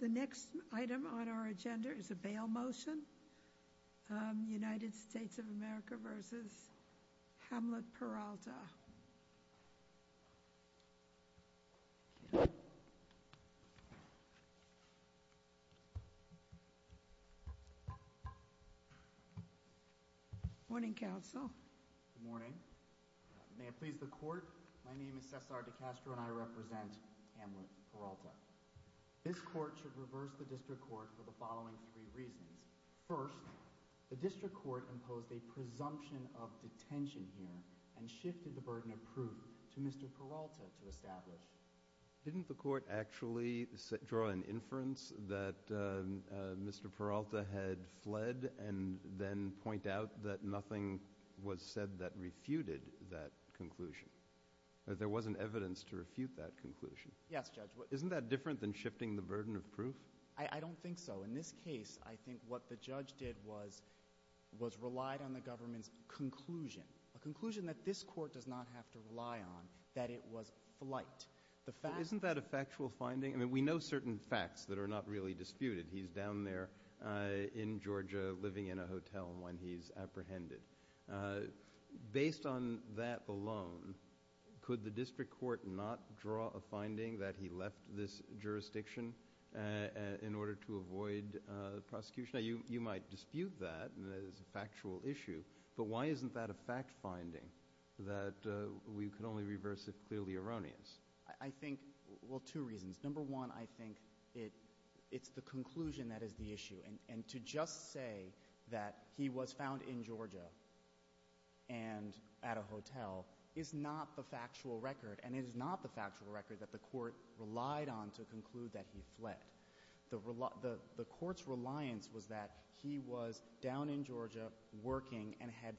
The next item on our agenda is a bail motion. United States of America v. Hamlet Peralta. Morning, counsel. Good morning. May it please the court, my name is Cesar de Castro and I represent Hamlet Peralta. This court should reverse the district court for the following three reasons. First, the district court imposed a presumption of detention here and shifted the burden of proof to Mr. Peralta to establish. Didn't the court actually draw an inference that Mr. Peralta had fled and then point out that nothing was said that refuted that conclusion? That there wasn't evidence to refute that conclusion? Yes, Judge. Isn't that different than shifting the burden of proof? I don't think so. In this case, I think what the judge did was relied on the government's conclusion, a conclusion that this court does not have to rely on, that it was flight. Isn't that a factual finding? I mean, we know certain facts that are not really disputed. He's down there in Georgia living in a hotel when he's apprehended. Based on that alone, could the district court not draw a finding that he left this jurisdiction in order to avoid prosecution? You might dispute that as a factual issue, but why isn't that a fact finding that we can only reverse if clearly erroneous? I think, well, two reasons. Number one, I think it's the conclusion that is the issue and to just say that he was found in Georgia and at a hotel is not the factual record, and it is not the factual record that the court relied on to conclude that he fled. The court's reliance was that he was down in Georgia working and had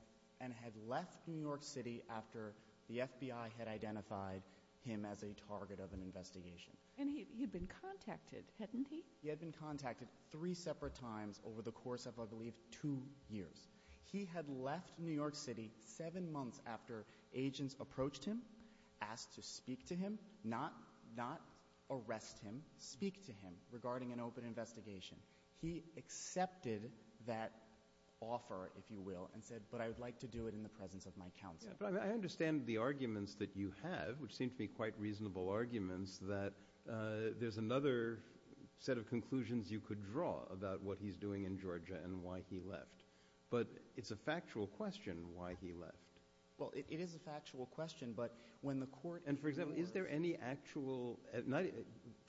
left New York City after the FBI had identified him as a target of an investigation. And he had been contacted, hadn't he? He had been contacted three separate times over the course of, I believe, two years. He had left New York City. The detectives approached him, asked to speak to him, not arrest him, speak to him regarding an open investigation. He accepted that offer, if you will, and said, but I would like to do it in the presence of my counsel. Yeah, but I understand the arguments that you have, which seem to be quite reasonable arguments, that there's another set of conclusions you could draw about what he's doing in Georgia and why he left. But it's a factual question why he left. Well, it is a factual question, but when the court... And, for example, is there any actual,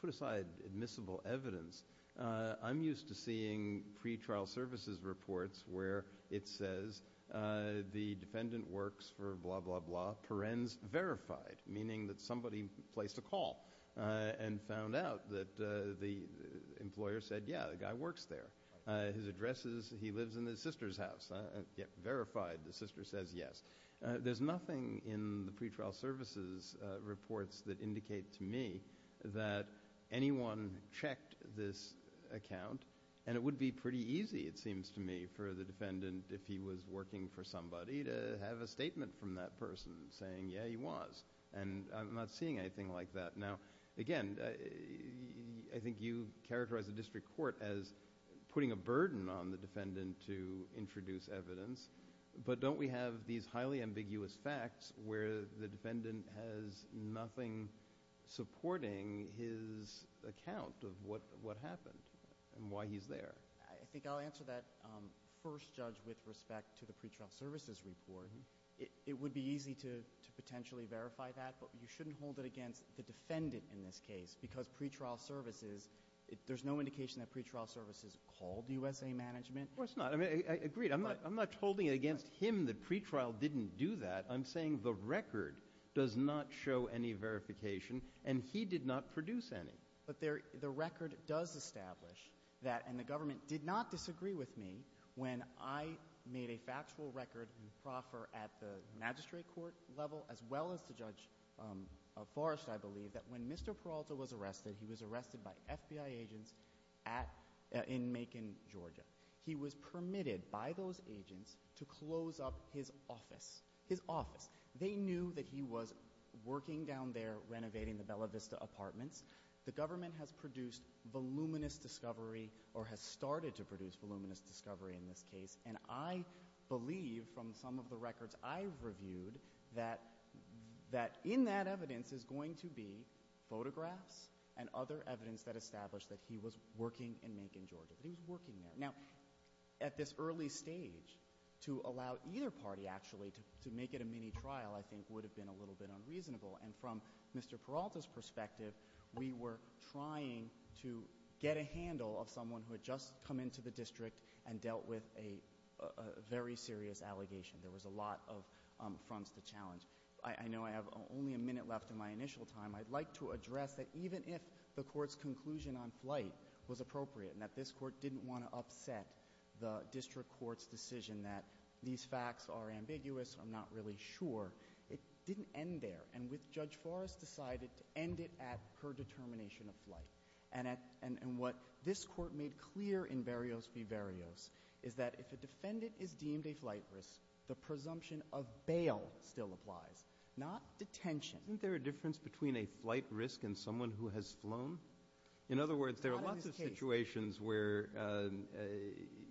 put aside admissible evidence, I'm used to seeing pretrial services reports where it says the defendant works for blah, blah, blah, perens verified, meaning that somebody placed a call and found out that the employer said, yeah, the guy works there. His address is he lives in Detroit. The sister says yes. There's nothing in the pretrial services reports that indicate to me that anyone checked this account, and it would be pretty easy, it seems to me, for the defendant, if he was working for somebody, to have a statement from that person saying, yeah, he was. And I'm not seeing anything like that. Now, again, I think you characterize the district court as putting a burden on the defendant to introduce evidence, but don't we have these highly ambiguous facts where the defendant has nothing supporting his account of what happened and why he's there? I think I'll answer that first, Judge, with respect to the pretrial services report. It would be easy to potentially verify that, but you shouldn't hold it against the defendant in this case, because pretrial services, there's no management. Well, it's not. I mean, I agree. I'm not holding it against him that pretrial didn't do that. I'm saying the record does not show any verification, and he did not produce any. But there the record does establish that, and the government did not disagree with me when I made a factual record and proffer at the magistrate court level as well as the Judge Forrest, I believe, that when Mr. Peralta was arrested, he was arrested by FBI agents in Macon, Georgia. He was permitted by those agents to close up his office, his office. They knew that he was working down there renovating the Bella Vista apartments. The government has produced voluminous discovery or has started to produce voluminous discovery in this case, and I believe from some of the records I've reviewed that in that evidence is going to be photographs and other evidence that established that he was working in Macon, Georgia, that he was working there. Now, at this early stage, to allow either party actually to make it a mini-trial, I think, would have been a little bit unreasonable, and from Mr. Peralta's perspective, we were trying to get a handle of someone who had just come into the district and dealt with a very serious allegation. There was a lot of fronts to challenge. I know I have only a minute left in my initial time. I'd like to address that even if the Court's conclusion on flight was appropriate and that this Court didn't want to upset the district court's decision that these facts are ambiguous, I'm not really sure, it didn't end there. And with Judge Forrest decided to end it at her determination of flight. And at — and what this Court made clear in Verios v. Verios is that if a defendant is deemed a flight risk, the presumption of bail still applies, not detention. Isn't there a difference between a flight risk and someone who has flown? In other words, there are lots of situations where,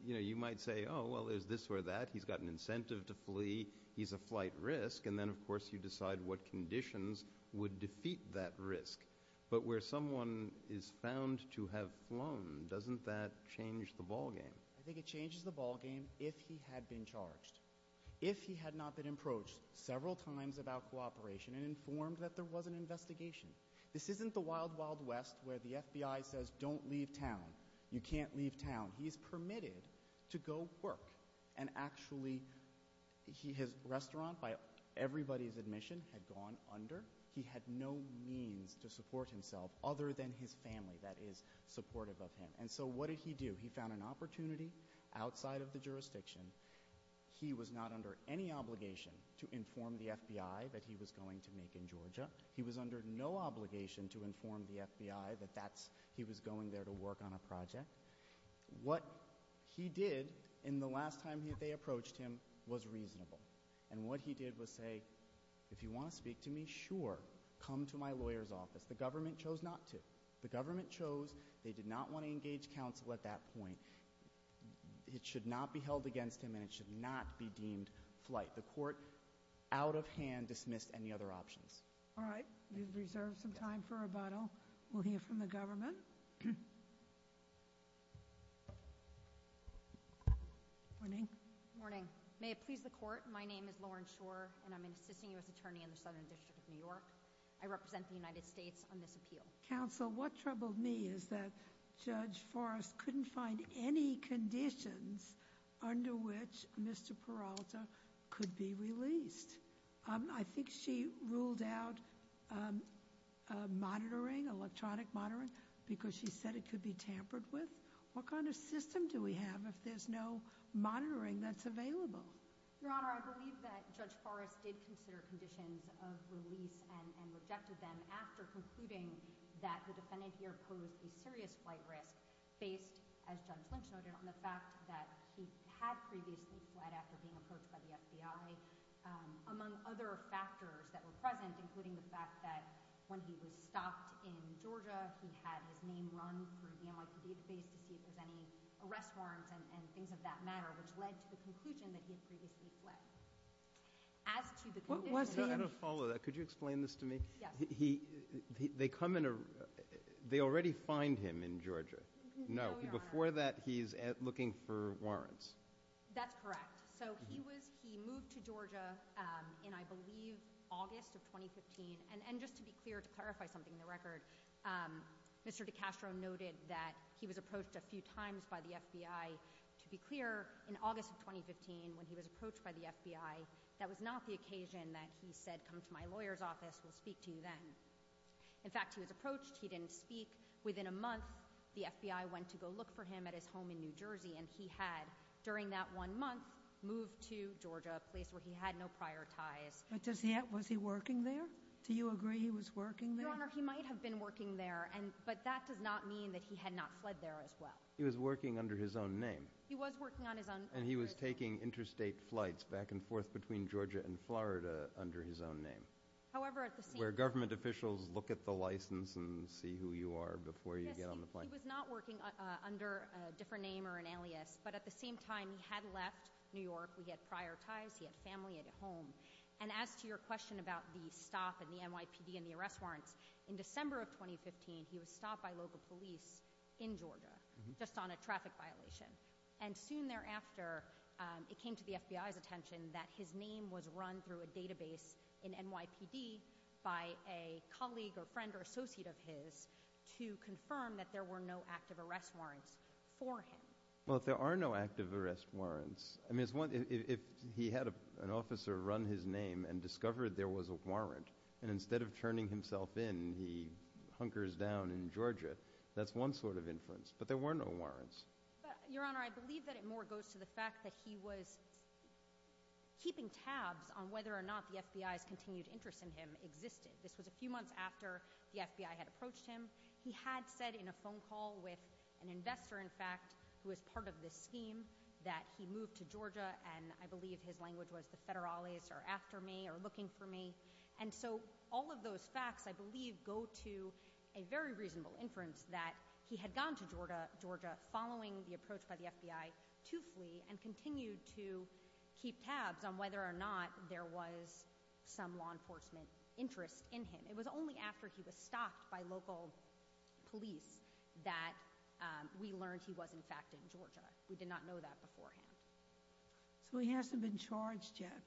you know, you might say, oh, well, there's this or that, he's got an incentive to flee, he's a flight risk, and then, of course, you decide what conditions would defeat that risk. But where someone is found to have flown, doesn't that change the ballgame? I think it changes the ballgame if he had been charged. If he had not been approached several times about cooperation and informed that there was an investigation. This isn't the wild, wild west where the FBI says, don't leave town, you can't leave town. He is permitted to go work. And actually, his restaurant, by everybody's admission, had gone under. He had no means to support himself other than his family that is supportive of him. And so what did he do? He found an opportunity outside of the jurisdiction. He was not under any obligation to inform the FBI that he was going to make in Georgia. He was under no obligation to inform the FBI that he was going there to work on a project. What he did in the last time they approached him was reasonable. And what he did was say, if you want to speak to me, sure, come to my lawyer's office. The government chose not to. The government chose, they did not want to engage counsel at that point. It should not be held against him and it should not be deemed flight. The court, out of hand, dismissed any other options. All right, we've reserved some time for rebuttal. We'll hear from the government. Morning. Morning. May it please the court, my name is Lauren Shore and I'm an assisting U.S. attorney in the Southern District of New York. I represent the United States on this appeal. Counsel, what troubled me is that Judge Forrest couldn't find any conditions under which Mr. Peralta could be released. I think she ruled out monitoring, electronic monitoring, because she said it could be tampered with. What kind of system do we have if there's no monitoring that's available? Your Honor, I believe that Judge Forrest did consider conditions of release and rejected them after concluding that the defendant here posed a serious flight risk, based, as Judge Lynch noted, on the fact that he had previously fled after being approached by the FBI, among other factors that were present, including the fact that when he was stopped in Georgia, he had his name run through the NYPD database to see if there's any arrest warrants and things of that matter, which led to the conclusion that he had previously fled. As to the condition being— What was the— I don't follow that. Could you explain this to me? Yes. They come in a—they already find him in Georgia. No, Your Honor. Before that, he's looking for warrants. That's correct. So he was—he moved to Georgia in, I believe, August of 2015. And just to be clear, to clarify something in the record, Mr. DiCastro noted that he was approached a few times by the FBI. To be clear, in August of 2015, when he was approached by the FBI, that was not the occasion that he said, come to my lawyer's office. We'll speak to you then. In fact, he was approached. He didn't speak. Within a month, the FBI went to go look for him at his home in New Jersey. And he had, during that one month, moved to Georgia, a place where he had no prior ties. But does he have—was he working there? Do you agree he was working there? Your Honor, he might have been working there, and—but that does not mean that he had not fled there as well. He was working under his own name. He was working on his own— And he was taking interstate flights back and forth between Georgia and Florida under his own name. However, at the same— Where government officials look at the license and see who you are before you get on the plane. Yes, he was not working under a different name or an alias. But at the same time, he had left New York. He had prior ties. He had family at home. And as to your question about the stop and the NYPD and the arrest warrants, in December of 2015, he was stopped by local police in Georgia, just on a traffic violation. And soon thereafter, it came to the FBI's attention that his name was run through a database in NYPD by a colleague or friend or associate of his to confirm that there were no active arrest warrants for him. Well, there are no active arrest warrants. I mean, it's one—if he had an officer run his name and discovered there was a warrant, and instead of turning himself in, he hunkers down in Georgia, that's one sort of inference. But there were no warrants. Your Honor, I believe that it more goes to the fact that he was keeping tabs on whether or not the FBI's continued interest in him existed. This was a few months after the FBI had approached him. He had said in a phone call with an investor, in fact, who was part of this scheme, that he moved to Georgia, and I believe his language was, the federales are after me or looking for me. And so all of those facts, I believe, go to a very reasonable inference that he had gone to Georgia following the approach by the FBI to flee and continued to keep tabs on whether or not there was some law enforcement interest in him. It was only after he was stopped by local police that we learned he was, in fact, in Georgia. We did not know that beforehand. So he hasn't been charged yet.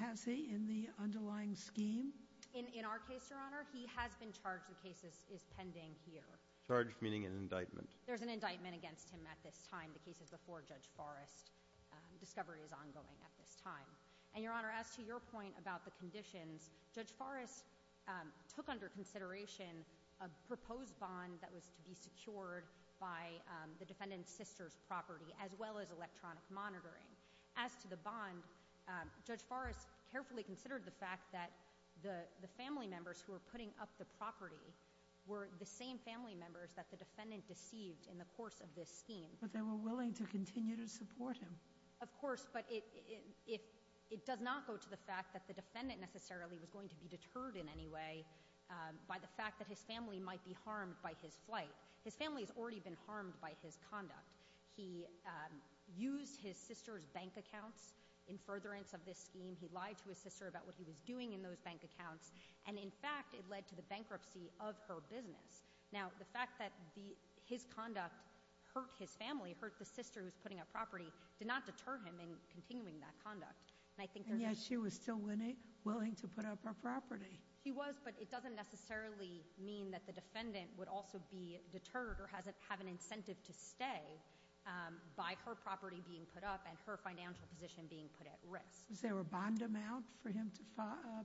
Has he in the underlying scheme? In our case, Your Honor, he has been charged. The case is pending here. Charged, meaning an indictment? There's an indictment against him at this time. The case is before Judge Forrest. Discovery is ongoing at this time. And Your Honor, as to your point about the conditions, Judge Forrest took under consideration a proposed bond that was to be secured by the defendant's sister's property, as well as electronic monitoring. As to the bond, Judge Forrest carefully considered the fact that the family members who were putting up the property were the same family members that the defendant deceived in the course of this scheme. But they were willing to continue to support him. Of course, but it does not go to the fact that the defendant necessarily was going to be deterred in any way by the fact that his family might be harmed by his flight. His family has already been harmed by his conduct. He used his sister's bank accounts in furtherance of this scheme. He lied to his sister about what he was doing in those bank accounts. And in fact, it led to the bankruptcy of her business. Now, the fact that his conduct hurt his family, hurt the sister who's putting up property, did not deter him in continuing that conduct. And I think there's- And yet she was still willing to put up her property. She was, but it doesn't necessarily mean that the defendant would also be given incentive to stay by her property being put up and her financial position being put at risk. Was there a bond amount for him to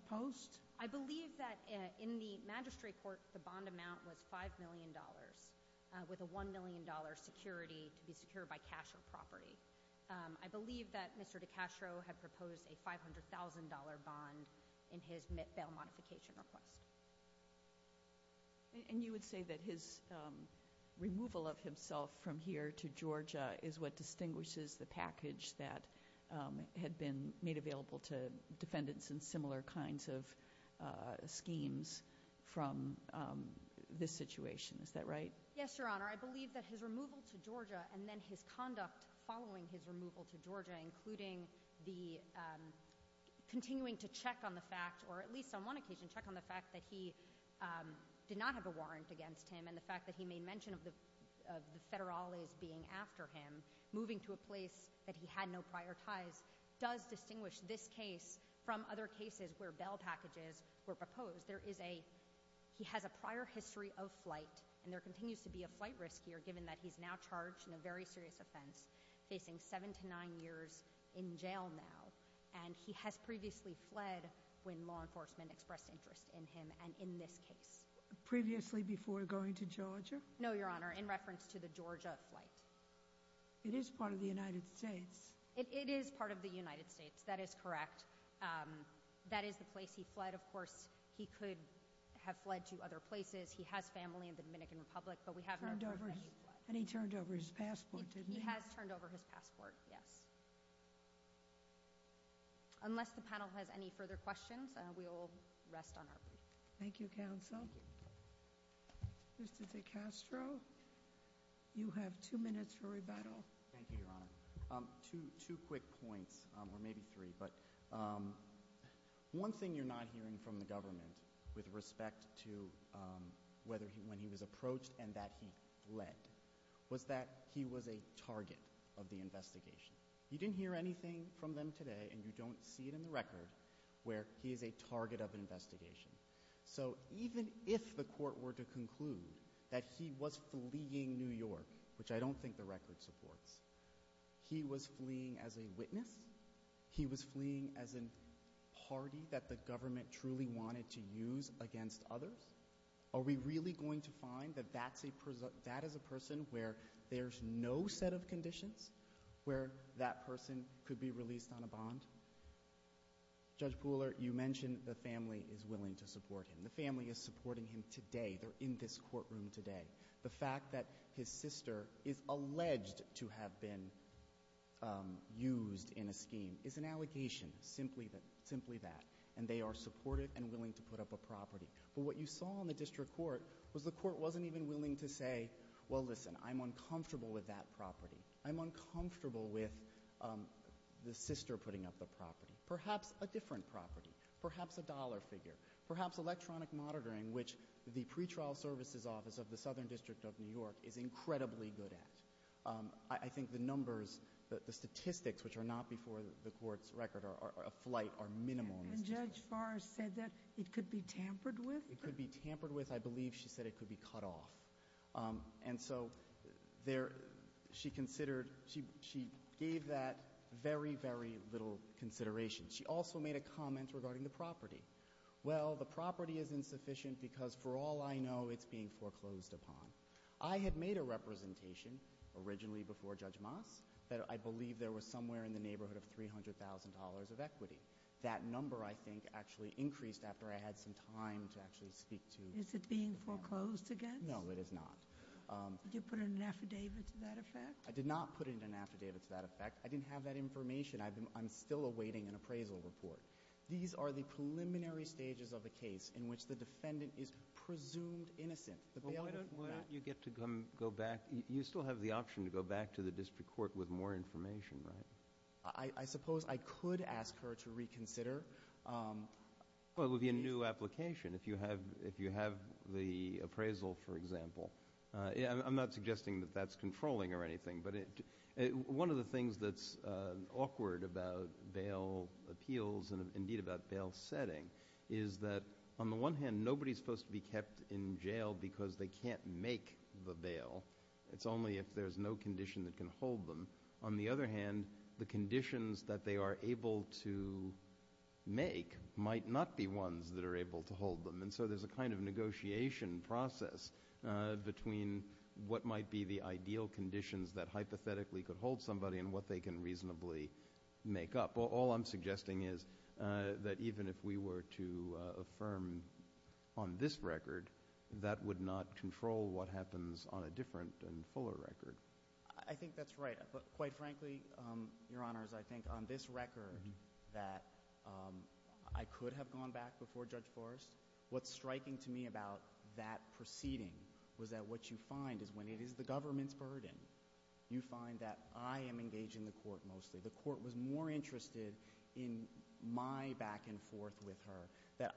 post? I believe that in the magistrate court, the bond amount was $5 million, with a $1 million security to be secured by cash or property. I believe that Mr. DiCastro had proposed a $500,000 bond in his bail modification request. And you would say that his removal of himself from here to Georgia is what distinguishes the package that had been made available to defendants in similar kinds of schemes from this situation. Is that right? Yes, Your Honor. I believe that his removal to Georgia and then his conduct following his removal to Georgia, including the continuing to check on the fact, or at least on one occasion, check on the fact that he did not have a warrant against him and the fact that he made mention of the Federales being after him, moving to a place that he had no prior ties, does distinguish this case from other cases where bail packages were proposed. He has a prior history of flight, and there continues to be a flight risk here, given that he's now charged in a very serious offense, facing seven to nine years in jail now. And he has previously fled when law enforcement expressed interest in him and in this case. Previously before going to Georgia? No, Your Honor, in reference to the Georgia flight. It is part of the United States. It is part of the United States, that is correct. That is the place he fled. Of course, he could have fled to other places. He has family in the Dominican Republic, but we have no proof that he fled. And he turned over his passport, didn't he? He has turned over his passport, yes. Unless the panel has any further questions, we will rest on our feet. Thank you, counsel. Mr. DeCastro, you have two minutes for rebuttal. Thank you, Your Honor. Two quick points, or maybe three, but one thing you're not hearing from the government with respect to when he was approached and that he fled, was that he was a target of the investigation. You didn't hear anything from them today and you don't see it in the record where he is a target of an investigation. So even if the court were to conclude that he was fleeing New York, which I don't think the record supports, he was fleeing as a witness? He was fleeing as a party that the government truly wanted to use against others? Are we really going to find that that is a person where there's no set of conditions where that person could be released on a bond? Judge Pooler, you mentioned the family is willing to support him. The family is supporting him today. They're in this courtroom today. The fact that his sister is alleged to have been used in a scheme is an allegation. Simply that. And they are supportive and willing to put up a property. But what you saw in the district court was the court wasn't even willing to say, well, listen, I'm uncomfortable with that property. I'm uncomfortable with the sister putting up the property. Perhaps a different property. Perhaps a dollar figure. Perhaps electronic monitoring, which the pretrial services office of the Southern District of New York is incredibly good at. I think the numbers, the statistics, which are not before the court's record of flight are minimal. And Judge Farr said that it could be tampered with? It could be tampered with. I believe she said it could be cut off. And so she considered, she gave that very, very little consideration. She also made a comment regarding the property. Well, the property is insufficient because for all I know, it's being foreclosed upon. I had made a representation originally before Judge Moss that I believe there was somewhere in the neighborhood of $300,000 of equity. That number, I think, actually increased after I had some time to actually speak to. Is it being foreclosed against? No, it is not. Did you put in an affidavit to that effect? I did not put in an affidavit to that effect. I didn't have that information. I'm still awaiting an appraisal report. These are the preliminary stages of the case in which the defendant is presumed innocent. Well, why don't you get to go back? You still have the option to go back to the district court with more information, right? I suppose I could ask her to reconsider. Well, it would be a new application. If you have the appraisal, for example, I'm not suggesting that that's controlling or anything, but one of the things that's awkward about bail appeals and indeed about bail setting is that on the one hand, nobody's supposed to be kept in jail because they can't make the bail. It's only if there's no condition that can hold them. On the other hand, the conditions that they are able to make might not be ones that are able to hold them. And so there's a kind of negotiation process between what might be the ideal conditions that hypothetically could hold somebody and what they can reasonably make up. All I'm suggesting is that even if we were to affirm on this record, that would not control what happens on a different and fuller record. I think that's right. Quite frankly, Your Honors, I think on this record that I could have gone back before Judge Forrest. What's striking to me about that proceeding was that what you find is when it is the government's burden, you find that I am engaged in the court mostly. The court was more interested in my back and forth with her. That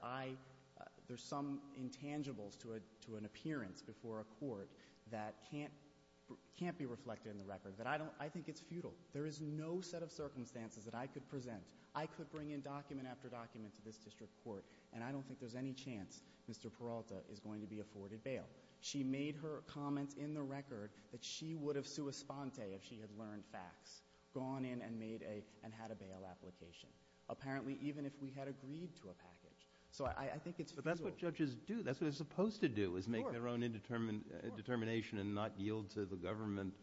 there's some intangibles to an appearance before a court that can't be reflected in the record. I think it's futile. There is no set of circumstances that I could present. I could bring in document after document to this district court, and I don't think there's any chance Mr. Peralta is going to be afforded bail. She made her comments in the record that she would have sua sponte if she had learned facts, gone in and made a and had a bail application, apparently even if we had agreed to a package. So I think it's futile. But that's what judges do. That's what they're supposed to do, is make their own indetermination and not yield to the government.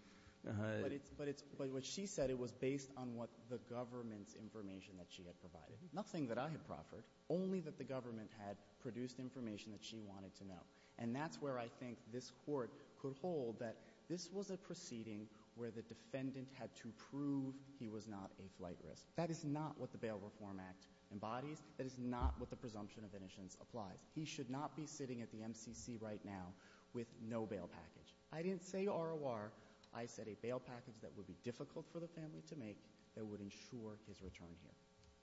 But it's what she said, it was based on what the government's information that she had provided. Nothing that I had proffered, only that the government had produced information that she wanted to know. And that's where I think this Court could hold that this was a proceeding where the defendant had to prove he was not a flight risk. That is not what the Bail Reform Act embodies. That is not what the presumption of innocence applies. He should not be sitting at the MCC right now with no bail package. I didn't say ROR. I said a bail package that would be difficult for the family to make that would ensure his return here.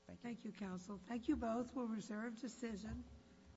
Thank you. Thank you, counsel. Thank you both. We'll reserve decision.